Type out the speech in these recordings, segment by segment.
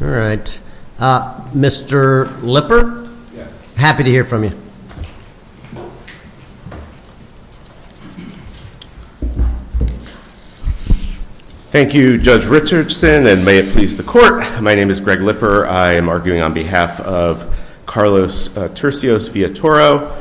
All right. Mr. Lipper, happy to hear from you. Thank you, Judge Richardson, and may it please the court. My name is Greg Lipper. I am arguing on behalf of Carlos Turcios Villatoro.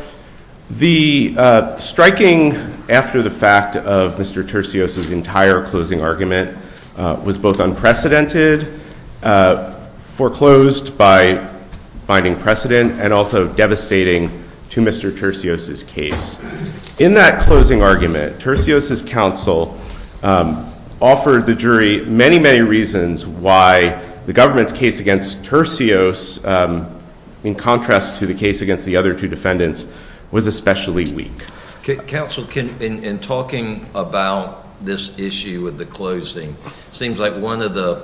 The striking after the fact of Mr. Turcios' entire closing argument was both unprecedented, foreclosed by binding precedent, and also devastating to Mr. Turcios' case. In that closing argument, Turcios' counsel offered the jury many, many reasons why the government's case against Turcios, in contrast to the case against the other two defendants, was especially weak. Counsel, in talking about this issue with the closing, seems like one of the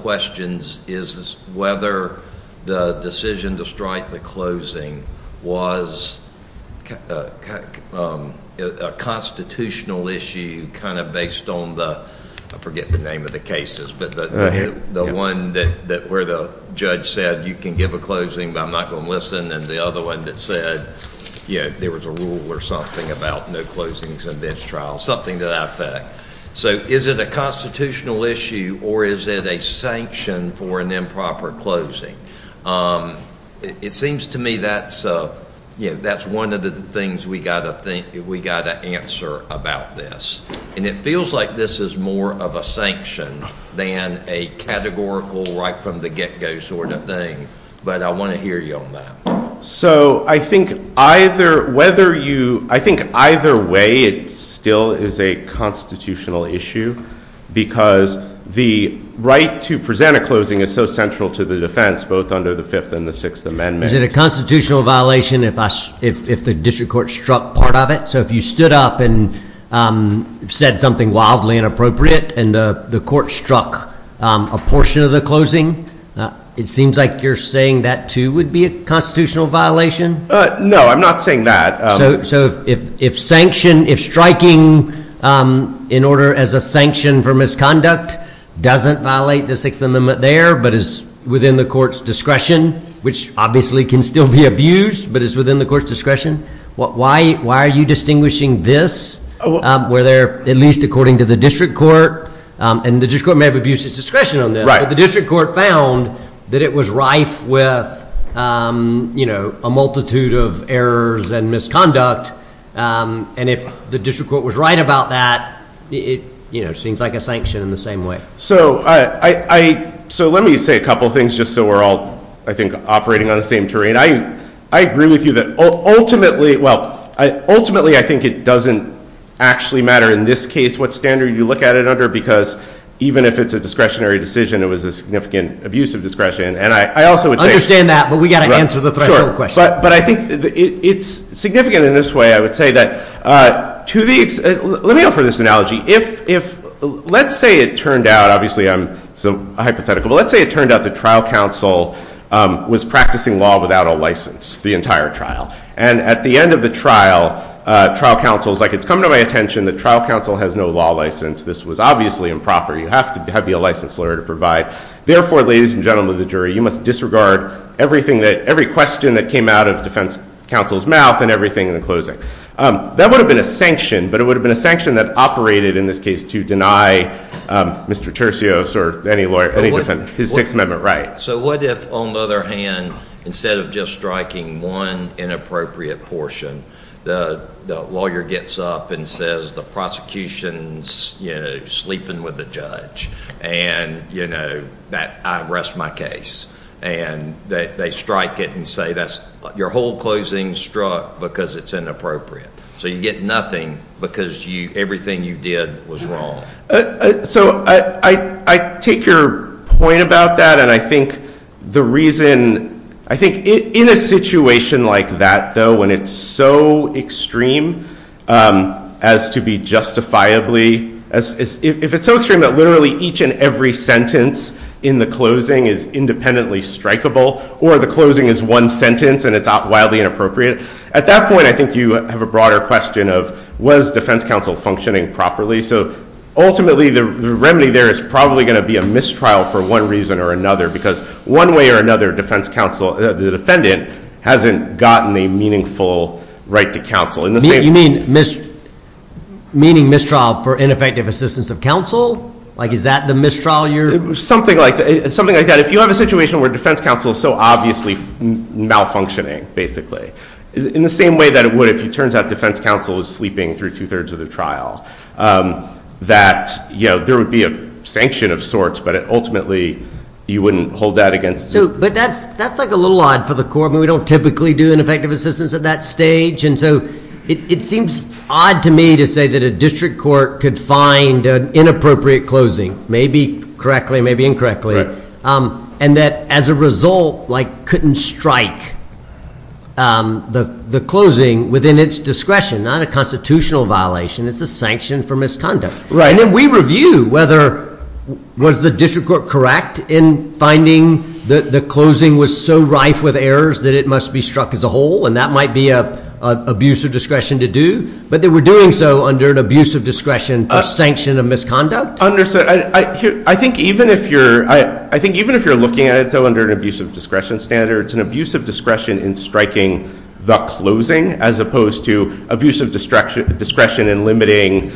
questions is whether the decision to strike the closing was a constitutional issue, kind of based on the, I forget the name of the cases, but the one where the judge said, you can give a closing, but I'm not going to listen, and the other one that said, yeah, there was a rule or something about no closings in bench trials, something to that effect. So is it a constitutional issue, or is it a sanction for an improper closing? It seems to me that's one of the things we've got to answer about this. And it feels like this is more of a sanction than a categorical, right from the get-go sort of thing, but I want to hear you on that. So I think either way, it still is a constitutional issue, because the right to present a closing is so central to the defense, both under the Fifth and the Sixth Amendment. Is it a constitutional violation if the district court struck part of it? So if you stood up and said something wildly inappropriate and the court struck a portion of the closing, it seems like you're saying that, too, would be a constitutional violation? No, I'm not saying that. So if striking in order as a sanction for misconduct doesn't violate the Sixth Amendment there, but is within the court's discretion, which obviously can still be abused, but is within the court's discretion, why are you distinguishing this, where there, at least according to the district court, and the district court may have abused its discretion on that, but the district court found that it was rife with a multitude of errors and misconduct? And if the district court was right about that, it seems like a sanction in the same way. So let me say a couple of things, just so we're all, I think, operating on the same terrain. I agree with you that ultimately, well, ultimately, I think it doesn't actually matter in this case what standard you look at it under, because even if it's a discretionary decision, it was a significant abuse of discretion. And I also would say- I understand that, but we've got to answer the threshold question. But I think it's significant in this way, I would say, that to the extent, let me offer this analogy. If, let's say it turned out, obviously, I'm hypothetical, but let's say it turned out the trial counsel was practicing law without a license the entire trial. And at the end of the trial, trial counsel was like, it's come to my attention that trial counsel has no law license. This was obviously improper. You have to be a licensed lawyer to provide. Therefore, ladies and gentlemen of the jury, you must disregard everything that, every question that came out of defense counsel's mouth and everything in the closing. That would have been a sanction, but it would have been a sanction that operated, in this case, to deny Mr. Tercios or any lawyer any defense his Sixth Amendment right. So what if, on the other hand, instead of just striking one inappropriate portion, the lawyer gets up and says, the prosecution's sleeping with the judge. And I rest my case. And they strike it and say, your whole closing struck because it's inappropriate. So you get nothing because everything you did was wrong. So I take your point about that. And I think the reason, I think in a situation like that, though, when it's so extreme as to be justifiably, if it's so extreme that literally each and every sentence in the closing is independently strikable, or the closing is one sentence and it's wildly inappropriate, at that point, I think you have a broader question of, was defense counsel functioning properly? So ultimately, the remedy there is probably going to be a mistrial for one reason or another. Because one way or another, the defendant hasn't gotten a meaningful right to counsel. You mean mistrial for ineffective assistance of counsel? Is that the mistrial you're? Something like that. If you have a situation where defense counsel is so obviously malfunctioning, basically, in the same way that it would if it turns out defense counsel is sleeping through 2 3rds of the trial, that there would be a sanction of sorts. But ultimately, you wouldn't hold that against. But that's a little odd for the court. I mean, we don't typically do ineffective assistance at that stage. And so it seems odd to me to say that a district court could find an inappropriate closing, maybe correctly, maybe incorrectly, and that, as a result, couldn't strike the closing within its discretion. Not a constitutional violation. It's a sanction for misconduct. And we review whether was the district court correct in finding that the closing was so rife with errors that it must be struck as a whole. And that might be an abuse of discretion to do. But they were doing so under an abuse of discretion for sanction of misconduct. I think even if you're looking at it though under an abuse of discretion standard, it's an abuse of discretion in striking the closing, as opposed to abuse of discretion in limiting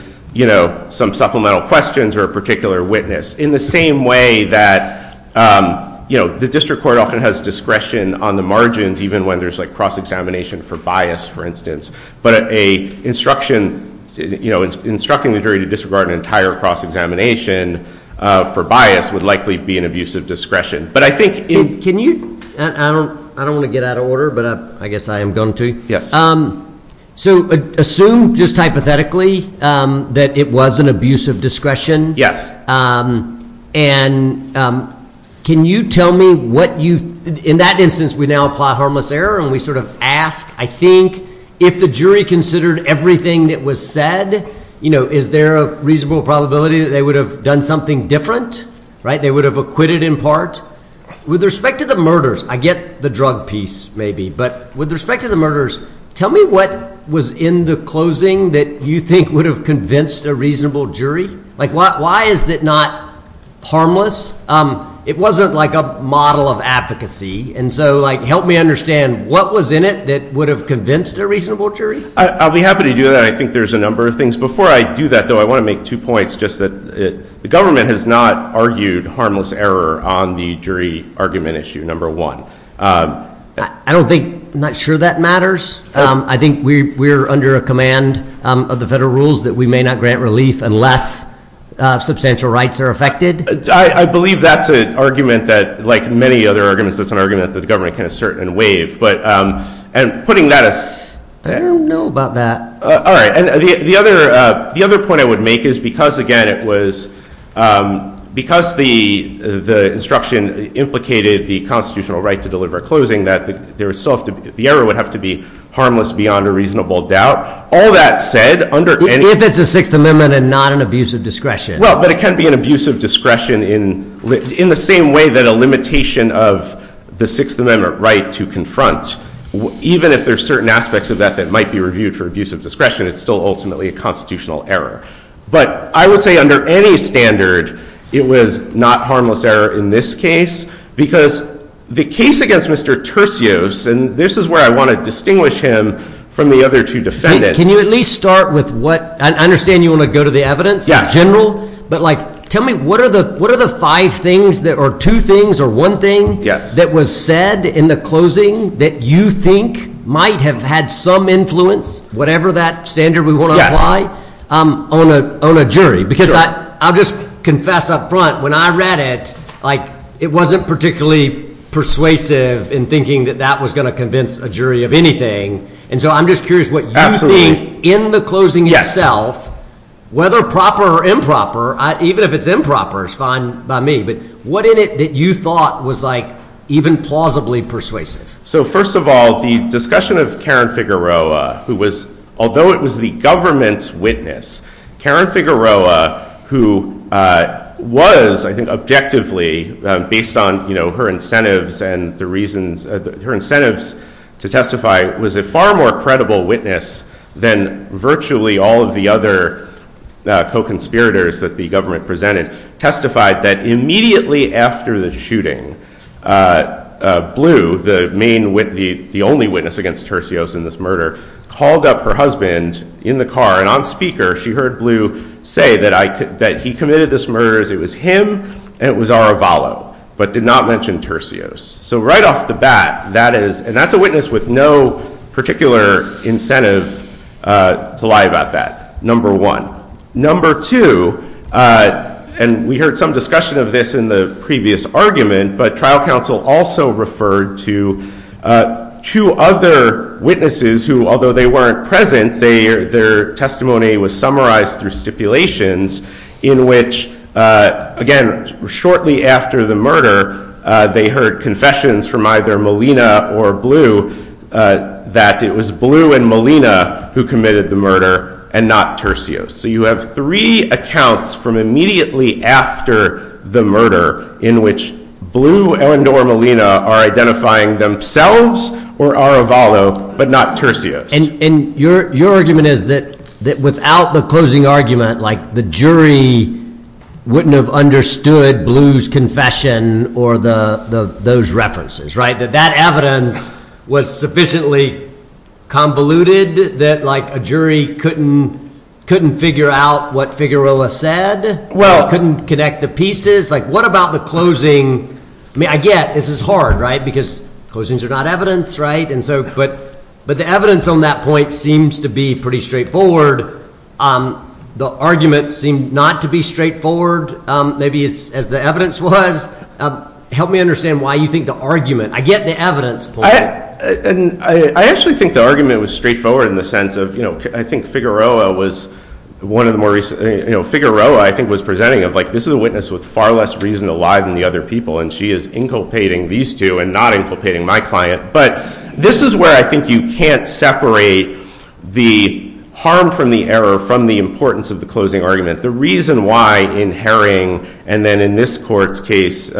some supplemental questions or a particular witness. In the same way that the district court often has discretion on the margins, even when there's a cross-examination for bias, for instance. But instructing the jury to disregard an entire cross-examination for bias would likely be an abuse of discretion. But I think in- Can you? I don't want to get out of order, but I guess I am going to. Yes. So assume, just hypothetically, that it was an abuse of discretion. Yes. And can you tell me what you've- in that instance, we now apply harmless error. And we sort of ask, I think, if the jury considered everything that was said, is there a reasonable probability that they would have done something different? They would have acquitted in part? With respect to the murders, I get the drug piece maybe. But with respect to the murders, tell me what was in the closing that you think would have convinced a reasonable jury? Like, why is it not harmless? It wasn't like a model of advocacy. And so help me understand, what was in it that would have convinced a reasonable jury? I'll be happy to do that. I think there's a number of things. Before I do that, though, I want to make two points, just that the government has not argued harmless error on the jury argument issue, number one. I don't think, I'm not sure that matters. I think we're under a command of the federal rules that we may not grant relief unless substantial rights are affected. I believe that's an argument that, like many other arguments, that's an argument that the government can assert and waive. And putting that as. I don't know about that. All right, and the other point I would make is because, again, it was, because the instruction implicated the constitutional right to deliver a closing, that the error would have to be harmless beyond a reasonable doubt. All that said, under any. If it's a Sixth Amendment and not an abuse of discretion. Well, but it can be an abuse of discretion in the same way that a limitation of the Sixth Amendment right to confront. Even if there's certain aspects of that that might be reviewed for abuse of discretion, it's still ultimately a constitutional error. But I would say under any standard, it was not harmless error in this case. Because the case against Mr. Tercios, and this is where I want to distinguish him from the other two defendants. Can you at least start with what, I understand you want to go to the evidence in general. But tell me, what are the five things, or two things, or one thing that was said in the closing that you think might have had some influence, whatever that standard we want to apply, on a jury? Because I'll just confess up front, when I read it, it wasn't particularly persuasive in thinking that that was going to convince a jury of anything. And so I'm just curious what you think in the closing itself, whether proper or improper. Even if it's improper, it's fine by me. But what in it that you thought was even plausibly persuasive? So first of all, the discussion of Karen Figueroa, although it was the government's witness, Karen Figueroa, who was, I think objectively, based on her incentives to testify, was a far more credible witness than virtually all of the other co-conspirators that the government presented, testified that immediately after the shooting, Blue, the only witness against Tercios in this murder, called up her husband in the car. And on speaker, she heard Blue say that he committed this murder as it was him, and it was Aravalo, but did not mention Tercios. So right off the bat, that is, and that's a witness with no particular incentive to lie about that, number one. Number two, and we heard some discussion of this in the previous argument, but trial counsel also referred to two other witnesses who, although they weren't present, their testimony was summarized through stipulations in which, again, shortly after the murder, they heard confessions from either Molina or Blue that it was Blue and Molina who committed the murder and not Tercios. So you have three accounts from immediately after the murder in which Blue and or Molina are identifying themselves or Aravalo, but not Tercios. And your argument is that without the closing argument, like the jury wouldn't have understood Blue's confession or those references, right? That that evidence was sufficiently convoluted that a jury couldn't figure out what Figueroa said, couldn't connect the pieces. Like, what about the closing? I mean, I get, this is hard, right? Because closings are not evidence, right? But the evidence on that point seems to be pretty straightforward. The argument seemed not to be straightforward, maybe as the evidence was. Help me understand why you think the argument, I get the evidence point. I actually think the argument was straightforward in the sense of, you know, I think Figueroa was one of the more recent, you know, Figueroa, I think, was presenting of, like, this is a witness with far less reason alive than the other people, and she is inculpating these two and not inculpating my client. But this is where I think you can't separate the harm from the error from the importance of the closing argument. The reason why in Herring and then in this court's case, the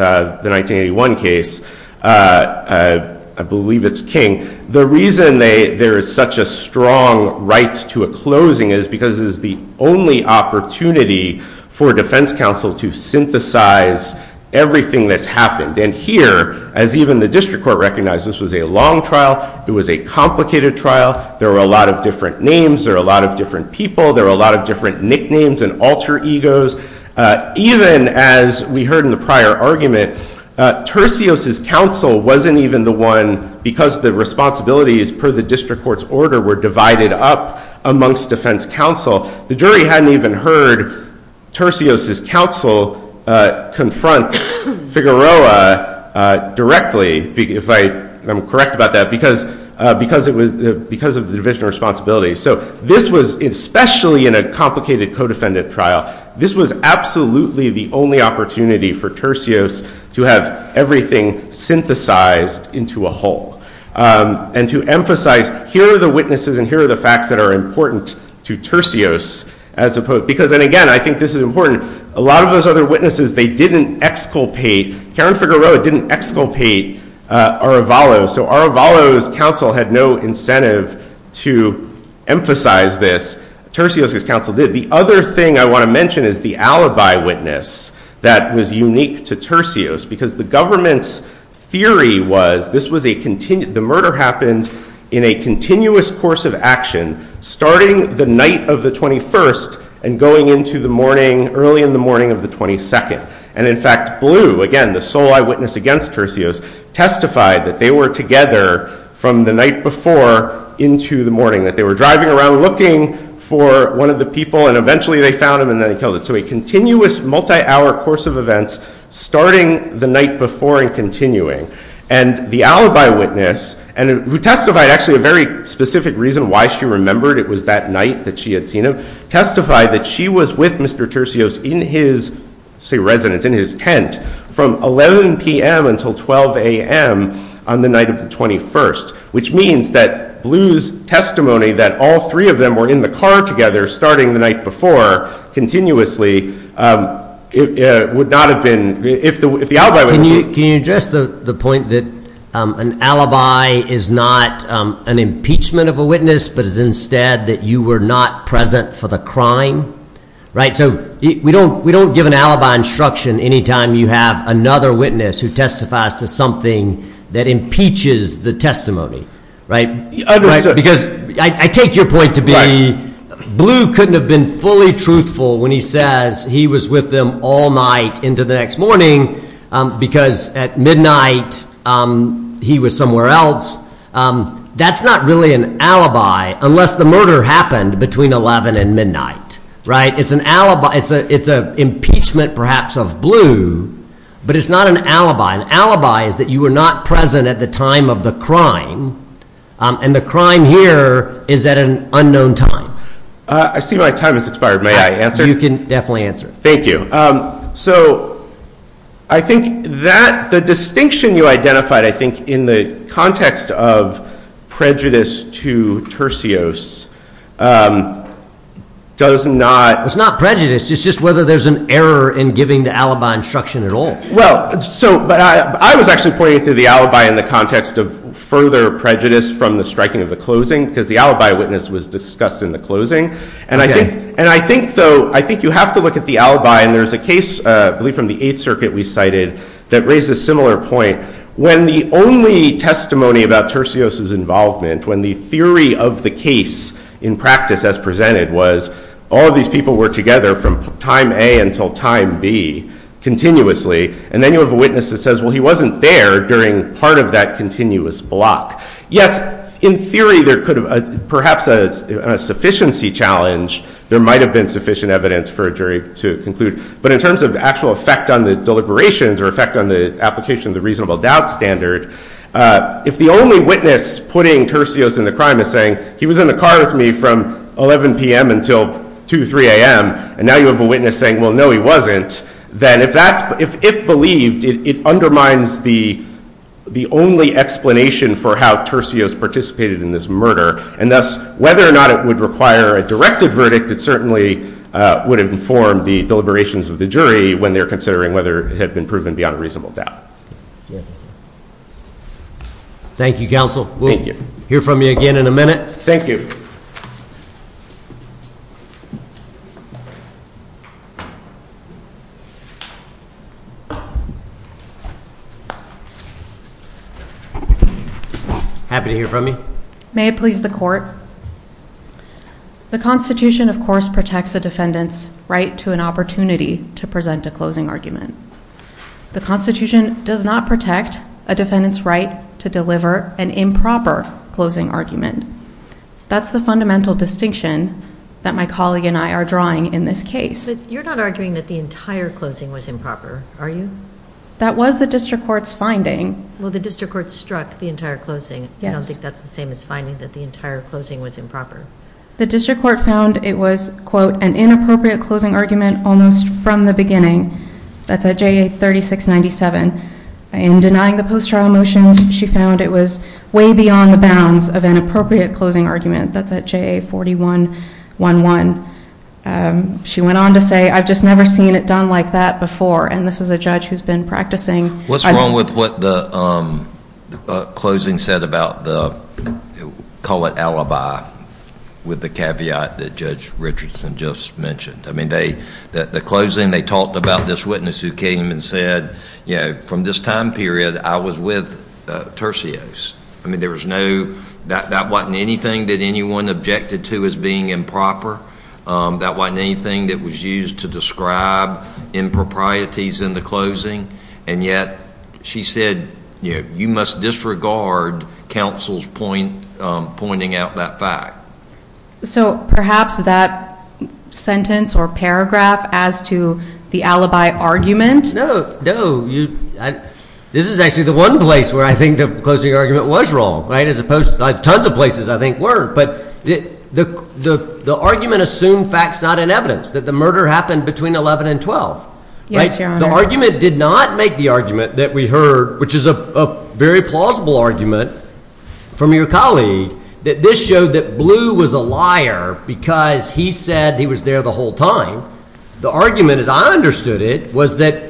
1981 case, I believe it's King, the reason there is such a strong right to a closing is because it is the only opportunity for defense counsel to synthesize everything that's happened. And here, as even the district court recognized, this was a long trial. It was a complicated trial. There were a lot of different names. There were a lot of different people. There were a lot of different nicknames. And alter egos. Even as we heard in the prior argument, Tercios's counsel wasn't even the one because the responsibilities per the district court's order were divided up amongst defense counsel. The jury hadn't even heard Tercios's counsel confront Figueroa directly, if I am correct about that, because of the division of responsibility. So this was, especially in a complicated co-defendant trial, this was absolutely the only opportunity for Tercios to have everything synthesized into a whole. And to emphasize, here are the witnesses and here are the facts that are important to Tercios. Because then again, I think this is important. A lot of those other witnesses, they didn't exculpate. Karen Figueroa didn't exculpate Aravalo. So Aravalo's counsel had no incentive to emphasize this. Tercios's counsel did. The other thing I want to mention is the alibi witness that was unique to Tercios. Because the government's theory was the murder happened in a continuous course of action starting the night of the 21st and going into the morning, early in the morning of the 22nd. And in fact, Blue, again, the sole eyewitness against Tercios, testified that they were together from the night before into the morning. That they were driving around looking for one of the people, and eventually they found him and then they killed him. So a continuous multi-hour course of events starting the night before and continuing. And the alibi witness, who testified actually a very specific reason why she remembered it was that night that she had seen him, testified that she was with Mr. Tercios in his, say residence, in his tent from 11 PM until 12 AM on the night of the 21st. Which means that Blue's testimony that all three of them were in the car together starting the night before continuously would not have been, if the alibi witness would have been. Can you address the point that an alibi is not an impeachment of a witness, but is instead that you were not present for the crime? So we don't give an alibi instruction any time you have another witness who testifies to something that impeaches the testimony, right? Because I take your point to be Blue couldn't have been fully truthful when he says he was with them all night into the next morning because at midnight he was somewhere else. That's not really an alibi unless the murder happened between 11 and midnight, right? It's an impeachment, perhaps, of Blue, but it's not an alibi. An alibi is that you were not present at the time of the crime, and the crime here is at an unknown time. I see my time has expired. May I answer? You can definitely answer. Thank you. So I think that the distinction you identified, I think, in the context of prejudice to Tercios does not- It's not prejudice. It's just whether there's an error in giving the alibi instruction at all. Well, so I was actually pointing to the alibi in the context of further prejudice from the striking of the closing because the alibi witness was discussed in the closing. And I think, though, I think you have to look at the alibi. And there's a case, I believe, from the Eighth Circuit we cited that raises a similar point. When the only testimony about Tercios' involvement, when the theory of the case in practice as presented was all of these people were together from time A until time B continuously, and then you have a witness that says, well, he wasn't there during part of that continuous block. Yes, in theory, there could have, perhaps on a sufficiency challenge, there might have been sufficient evidence for a jury to conclude. But in terms of actual effect on the deliberations or effect on the application of the reasonable doubt standard, if the only witness putting Tercios in the crime is saying, he was in the car with me from 11 PM until 2, 3 AM, and now you have a witness saying, well, no, he wasn't, then if believed, it undermines the only explanation for how Tercios participated in this murder. And thus, whether or not it would require a directed verdict, it certainly would inform the deliberations of the jury when they're considering whether it had been proven beyond a reasonable doubt. Thank you, counsel. Thank you. We'll hear from you again in a minute. Thank you. Happy to hear from you. May it please the court. The Constitution, of course, protects a defendant's right to an opportunity to present a closing argument. The Constitution does not protect a defendant's right to deliver an improper closing argument. That's the fundamental distinction that my colleague and I are drawing in this case. You're not arguing that the entire closing was improper, are you? That was the district court's finding. Well, the district court struck the entire closing. I don't think that's the same as finding that the entire closing was improper. The district court found it was, quote, an inappropriate closing argument almost from the beginning. That's at JA 3697. In denying the post-trial motions, she found it was way beyond the bounds of an appropriate closing argument. That's at JA 4111. She went on to say, I've just never seen it done like that before. And this is a judge who's been practicing. What's wrong with what the closing said about the, call it alibi, with the caveat that Judge Richardson just mentioned? The closing, they talked about this witness who came and said, from this time period, I was with Tercios. I mean, there was no, that wasn't anything that anyone objected to as being improper. That wasn't anything that was used to describe improprieties in the closing. And yet, she said, you must disregard counsel's pointing out that fact. So perhaps that sentence or paragraph as to the alibi argument? No, no. This is actually the one place where I think the closing argument was wrong, right? As opposed to, like, tons of places I think were. But the argument assumed facts not in evidence, that the murder happened between 11 and 12. Yes, Your Honor. The argument did not make the argument that we heard, which is a very plausible argument from your colleague, that this showed that Blue was a liar because he said he was there the whole time. The argument, as I understood it, was that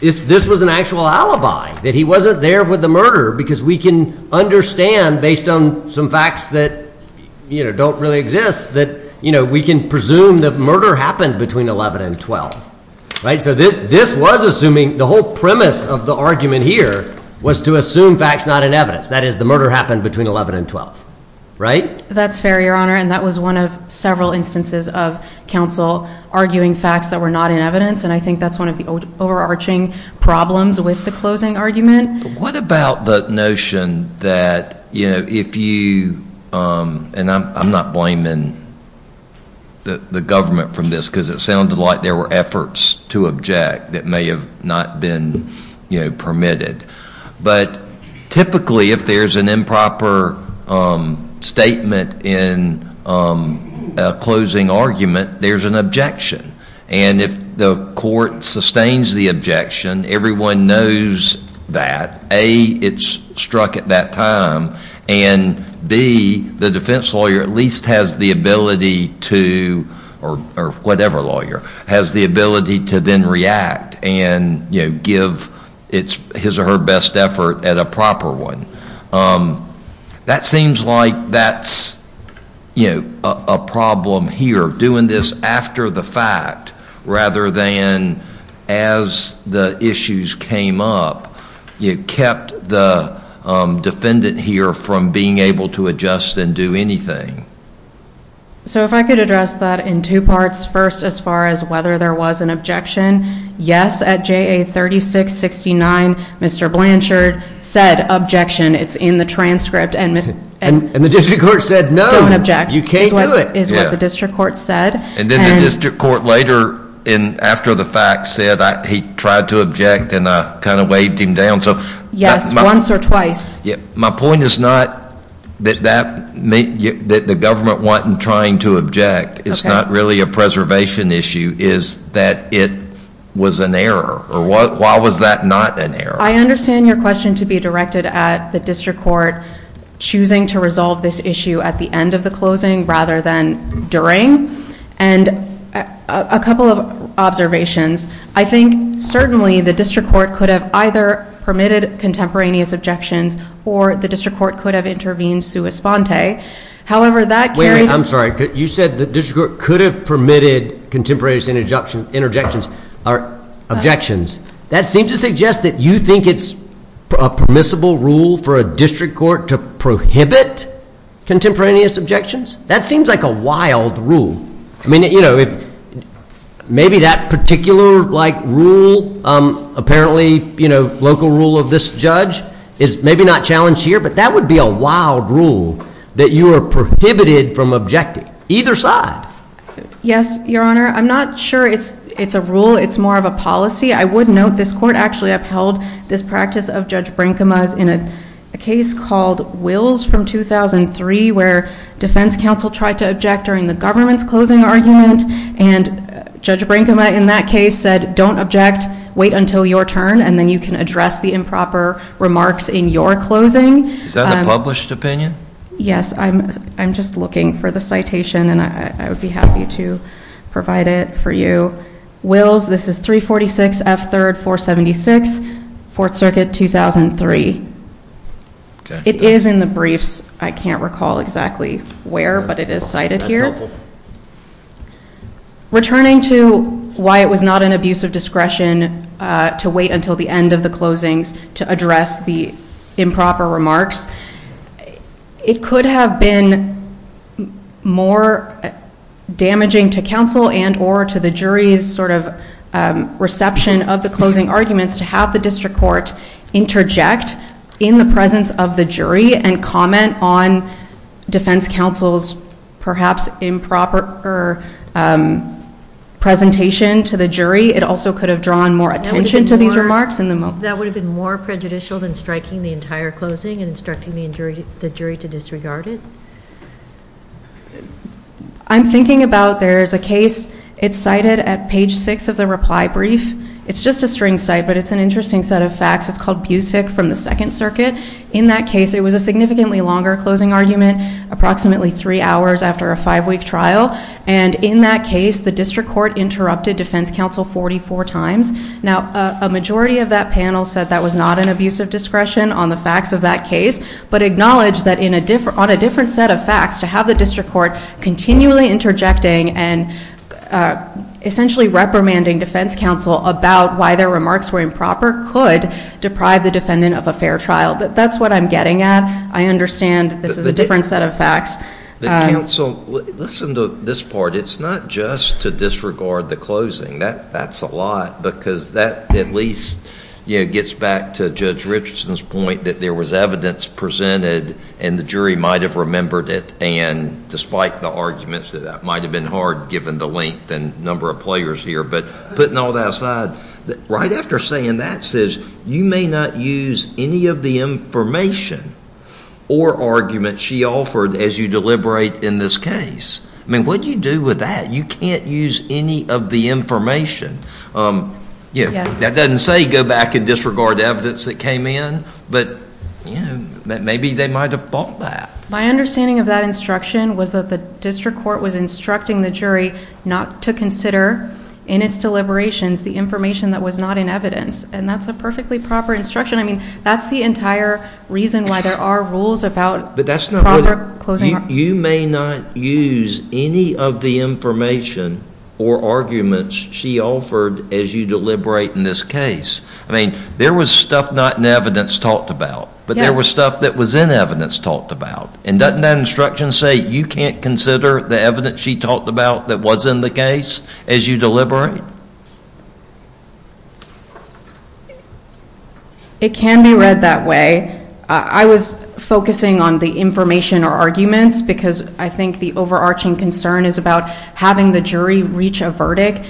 this was an actual alibi, that he wasn't there with the murder, because we can understand, based on some facts that don't really exist, that we can presume that murder happened between 11 and 12. So this was assuming, the whole premise of the argument here was to assume facts not in evidence. That is, the murder happened between 11 and 12, right? That's fair, Your Honor. And that was one of several instances of counsel arguing facts that were not in evidence. And I think that's one of the overarching problems with the closing argument. What about the notion that if you, and I'm not blaming the government from this, because it sounded like there were efforts to object that may have not been permitted. But typically, if there's an improper statement in a closing argument, there's an objection. And if the court sustains the objection, everyone knows that. A, it's struck at that time. And B, the defense lawyer at least has the ability to, or whatever lawyer, has the ability to then react and give his or her best effort at a proper one. That seems like that's a problem here, doing this after the fact rather than as the issues came up. You kept the defendant here from being able to adjust and do anything. So if I could address that in two parts. First, as far as whether there was an objection, yes, at JA 3669, Mr. Blanchard said, objection. It's in the transcript. And the district court said, no, you can't do it, is what the district court said. And then the district court later, after the fact, said he tried to object. And I kind of weighed him down. So my point is not that the government wasn't trying to object. It's not really a preservation issue. It's that it was an error. Or why was that not an error? I understand your question to be directed at the district court choosing to resolve this issue at the end of the closing rather than during. And a couple of observations. I think certainly the district court could have either permitted contemporaneous objections, or the district court could have intervened sua sponte. However, that carried on. I'm sorry. You said the district court could have permitted contemporaneous objections. That seems to suggest that you think it's a permissible rule for a district court to prohibit contemporaneous objections. That seems like a wild rule. Maybe that particular rule, apparently local rule of this judge, is maybe not challenged here. But that would be a wild rule, that you are prohibited from objecting, either side. Yes, Your Honor. I'm not sure it's a rule. It's more of a policy. I would note this court actually upheld this practice of Judge Brinkma's in a case called Wills from 2003, where defense counsel tried to object during the government's closing argument. And Judge Brinkma in that case said, don't object. Wait until your turn, and then you can address the improper remarks in your closing. Is that the published opinion? Yes, I'm just looking for the citation. And I would be happy to provide it for you. Wills, this is 346 F 3rd 476, Fourth Circuit, 2003. It is in the briefs. I can't recall exactly where, but it is cited here. Returning to why it was not an abuse of discretion to wait until the end of the closings to address the improper remarks, it could have been more damaging to counsel and or to the jury's reception of the closing arguments to have the district court interject in the presence of the jury and comment on defense counsel's perhaps improper presentation to the jury. It also could have drawn more attention to these remarks. That would have been more prejudicial than striking the entire closing and instructing the jury to disregard it? I'm thinking about there's a case. It's cited at page six of the reply brief. It's just a string cite, but it's an interesting set of facts. It's called Busick from the Second Circuit. In that case, it was a significantly longer closing argument, approximately three hours after a five-week trial. And in that case, the district court interrupted defense counsel 44 times. Now, a majority of that panel said that was not an abuse of discretion on the facts of that case, but acknowledged that on a different set of facts, to have the district court continually interjecting and essentially reprimanding defense counsel about why their remarks were improper could deprive the defendant of a fair trial. But that's what I'm getting at. I understand this is a different set of facts. But counsel, listen to this part. It's not just to disregard the closing. That's a lot, because that at least gets back to Judge Richardson's point that there was evidence presented, and the jury might have remembered it. And despite the arguments, that might have been hard given the length and number of players here. But putting all that aside, right after saying that, says you may not use any of the information or argument she offered as you deliberate in this case. I mean, what do you do with that? You can't use any of the information. That doesn't say go back and disregard evidence that came in, but maybe they might have thought that. My understanding of that instruction was that the district court was instructing the jury not to consider, in its deliberations, the information that was not in evidence. And that's a perfectly proper instruction. I mean, that's the entire reason why there are rules about proper closing. You may not use any of the information or arguments she offered as you deliberate in this case. I mean, there was stuff not in evidence talked about, but there was stuff that was in evidence talked about. And doesn't that instruction say you can't consider the evidence she talked about that was in the case as you deliberate? It can be read that way. I was focusing on the information or arguments because I think the overarching concern is about having the jury reach a verdict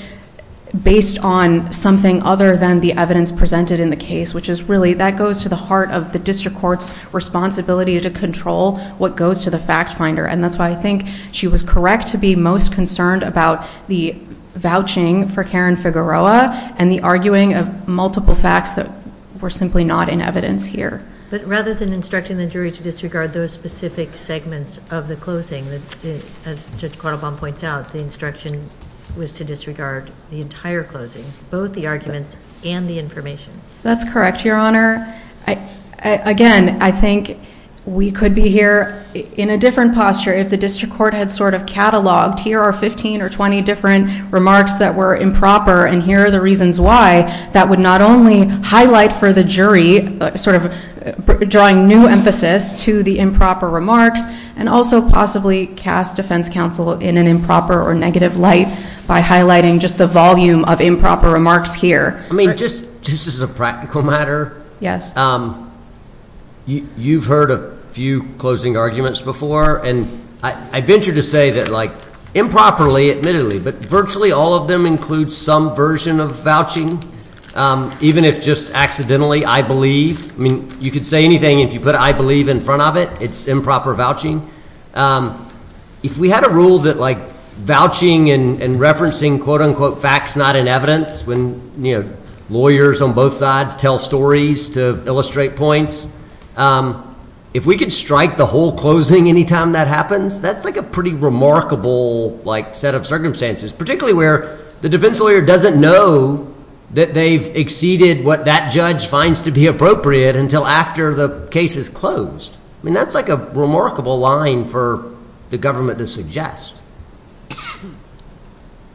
based on something other than the evidence presented in the case, which is really that goes to the heart of the district court's responsibility to control what goes to the fact finder. And that's why I think she was correct to be most concerned about the vouching for Karen Figueroa and the arguing of multiple facts that were simply not in evidence here. But rather than instructing the jury to disregard those specific segments of the closing, as Judge Cordovan points out, the instruction was to disregard the entire closing, both the arguments and the information. That's correct, Your Honor. Again, I think we could be here in a different posture if the district court had sort of cataloged, here are 15 or 20 different remarks that were improper, and here are the reasons why. That would not only highlight for the jury, sort of drawing new emphasis to the improper remarks, and also possibly cast defense counsel in an improper or negative light by highlighting just the volume of improper remarks here. I mean, just as a practical matter, you've heard a few closing arguments before. And I venture to say that improperly, admittedly, but virtually all of them include some version of vouching, even if just accidentally, I believe. I mean, you could say anything. If you put I believe in front of it, it's improper vouching. If we had a rule that like vouching and referencing quote, unquote, facts not in evidence, when lawyers on both sides tell stories to illustrate points, if we could strike the whole closing any time that happens, that's like a pretty remarkable set of circumstances, particularly where the defense lawyer doesn't know that they've exceeded what that judge finds to be appropriate until after the case is closed. I mean, that's like a remarkable line for the government to suggest.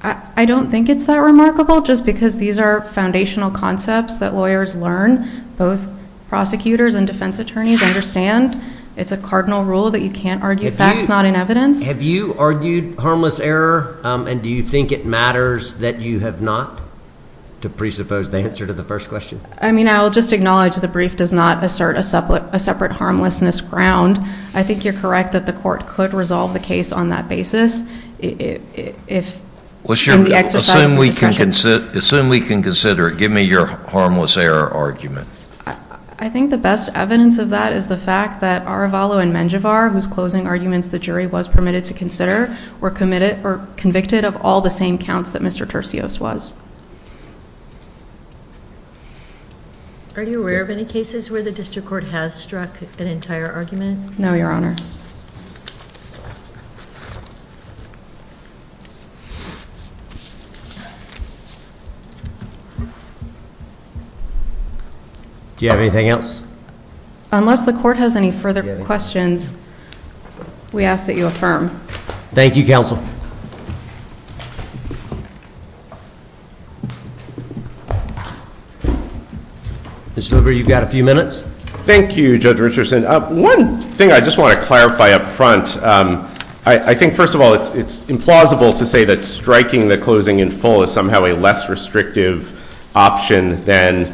I don't think it's that remarkable, just because these are foundational concepts that lawyers learn, both prosecutors and defense attorneys understand. It's a cardinal rule that you can't argue facts not in evidence. Have you argued harmless error? And do you think it matters that you have not, to presuppose the answer to the first question? I mean, I'll just acknowledge the brief does not assert a separate harmlessness ground. I think you're correct that the court could resolve the case on that basis. Assume we can consider it. Give me your harmless error argument. I think the best evidence of that is the fact that Arevalo and Menjivar, whose closing arguments the jury was permitted to consider, were convicted of all the same counts that Mr. Tercios was. Are you aware of any cases where the district court has struck an entire argument? No, Your Honor. Do you have anything else? Unless the court has any further questions, we ask that you affirm. Thank you, counsel. Mr. Hoover, you've got a few minutes. Thank you, Judge Richardson. One thing I just want to clarify up front, I think, first of all, it's implausible to say that striking the closing in full is somehow a less restrictive option than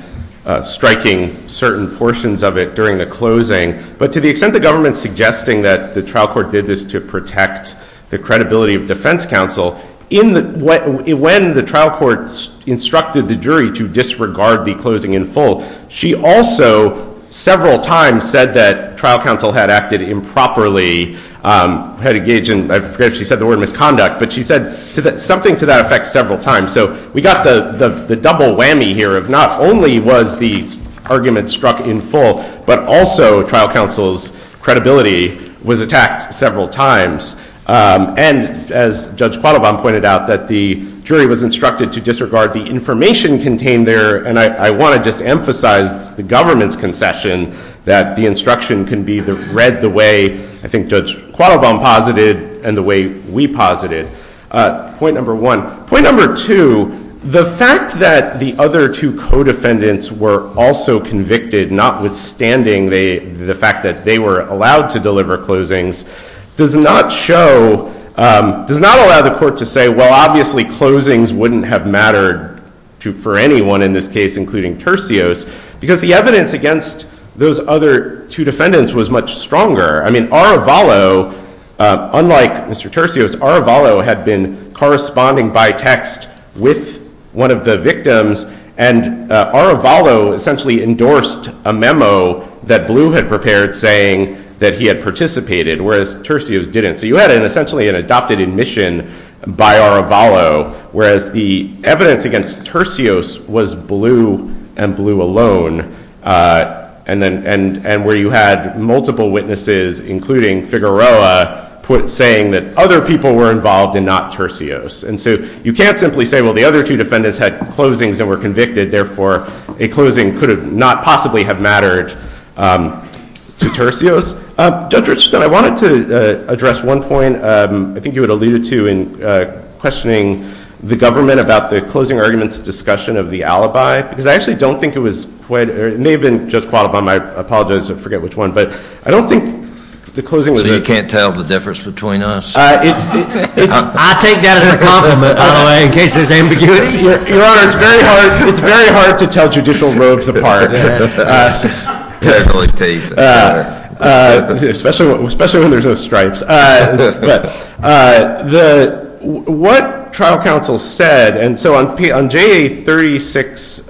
striking certain portions of it during the closing. But to the extent the government's suggesting that the trial court did this to protect the credibility of defense counsel, when the trial court instructed the jury to disregard the closing in full, she also, several times, said that trial counsel had acted improperly, had engaged in, I forget if she said the word, misconduct. But she said something to that effect several times. So we got the double whammy here of not only was the argument struck in full, but also trial counsel's credibility was attacked several times. And as Judge Quattlebaum pointed out, that the jury was instructed to disregard the information contained there. And I want to just emphasize the government's concession that the instruction can be read the way, I think, Judge Quattlebaum posited and the way we posited, point number one. Point number two, the fact that the other two co-defendants were also convicted, notwithstanding the fact that they were allowed to deliver closings, does not show, does not allow the court to say, well, obviously, closings wouldn't have mattered for anyone in this case, including Tercios, because the evidence against those other two defendants was much stronger. I mean, Aravalo, unlike Mr. Tercios, Aravalo had been corresponding by text with one of the victims. And Aravalo essentially endorsed a memo that Blue had prepared saying that he had participated, whereas Tercios didn't. So you had, essentially, an adopted admission by Aravalo, whereas the evidence against Tercios was Blue and Blue alone, and where you had multiple witnesses, including Figueroa, saying that other people were involved and not Tercios. And so you can't simply say, well, the other two defendants had closings and were convicted. Therefore, a closing could not possibly have mattered to Tercios. Judge Richardson, I wanted to address one point. I think you had alluded to in questioning the government about the closing arguments discussion of the alibi, because I actually don't think it was quite, or it may have been Judge Quattlebaum, I apologize, I forget which one. But I don't think the closing was a So you can't tell the difference between us? I take that as a compliment, by the way, in case there's ambiguity. Your Honor, it's very hard to tell judicial robes apart, especially when there's no stripes. What trial counsel said, and so on JA36,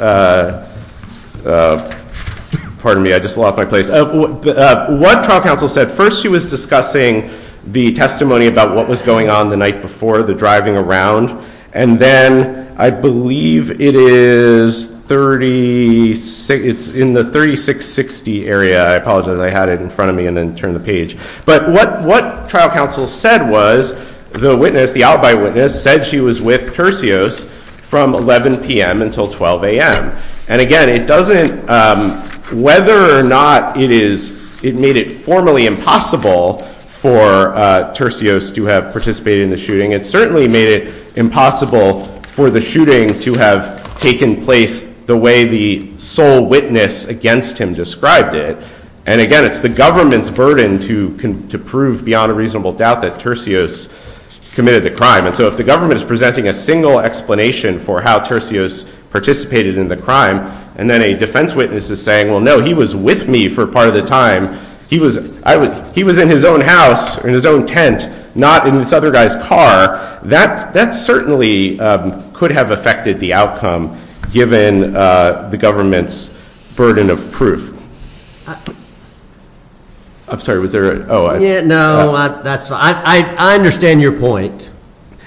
pardon me, I just lost my place. What trial counsel said, first she was discussing the testimony about what was going on the night before, the driving around. And then I believe it is 36, it's in the 3660 area. I apologize, I had it in front of me and then turned the page. But what trial counsel said was, the witness, the alibi witness, said she was with Tercios from 11 PM until 12 AM. And again, whether or not it made it formally impossible for Tercios to have participated in the shooting, it certainly made it impossible for the shooting to have taken place the way the sole witness against him described it. And again, it's the government's burden to prove beyond a reasonable doubt that Tercios committed the crime. And so if the government is presenting a single explanation for how Tercios participated in the crime, and then a defense witness is saying, well, no, he was with me for part of the time, he was in his own house, in his own tent, not in this other guy's car, that certainly could have affected the outcome, given the government's burden of proof. I'm sorry, was there a, oh, I'm. No, that's fine. I understand your point.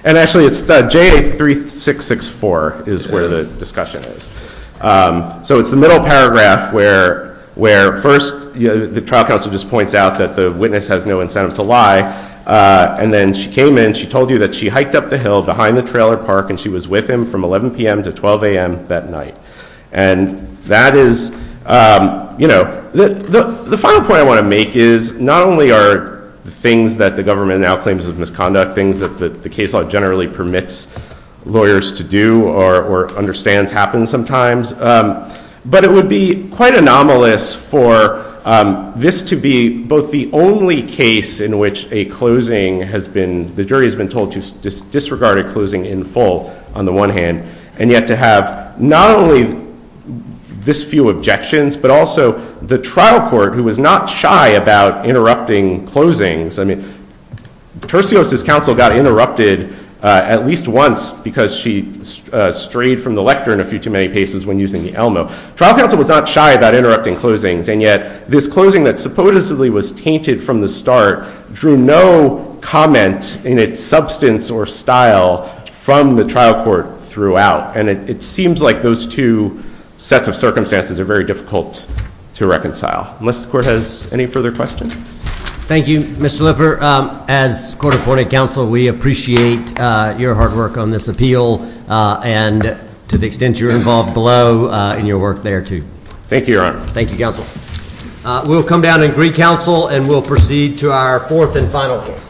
And actually, it's the J3664 is where the discussion is. So it's the middle paragraph, where first, the trial counsel just points out that the witness has no incentive to lie. And then she came in, she told you that she hiked up the hill behind the trailer park, and she was with him from 11 PM to 12 AM that night. And that is, you know, the final point I want to make is, not only are things that the government now claims of misconduct, things that the case law generally permits lawyers to do, or understands happen sometimes, but it would be quite anomalous for this to be both the only case in which a closing has been, the jury has been told to disregard a closing in full, on the one hand, and yet to have not only this few objections, but also the trial court, who was not shy about interrupting closings. I mean, Tercios's counsel got interrupted at least once because she strayed from the lectern a few too many paces when using the Elmo. Trial counsel was not shy about interrupting closings. And yet, this closing that supposedly was tainted from the start drew no comment in its substance or style from the trial court throughout. And it seems like those two sets of circumstances are very difficult to reconcile, unless the court has any further questions. Thank you, Mr. Lipper. As court appointed counsel, we appreciate your hard work on this appeal, and to the extent you're involved below in your work there, too. Thank you, Your Honor. Thank you, counsel. We'll come down and greet counsel, and we'll proceed to our fourth and final case.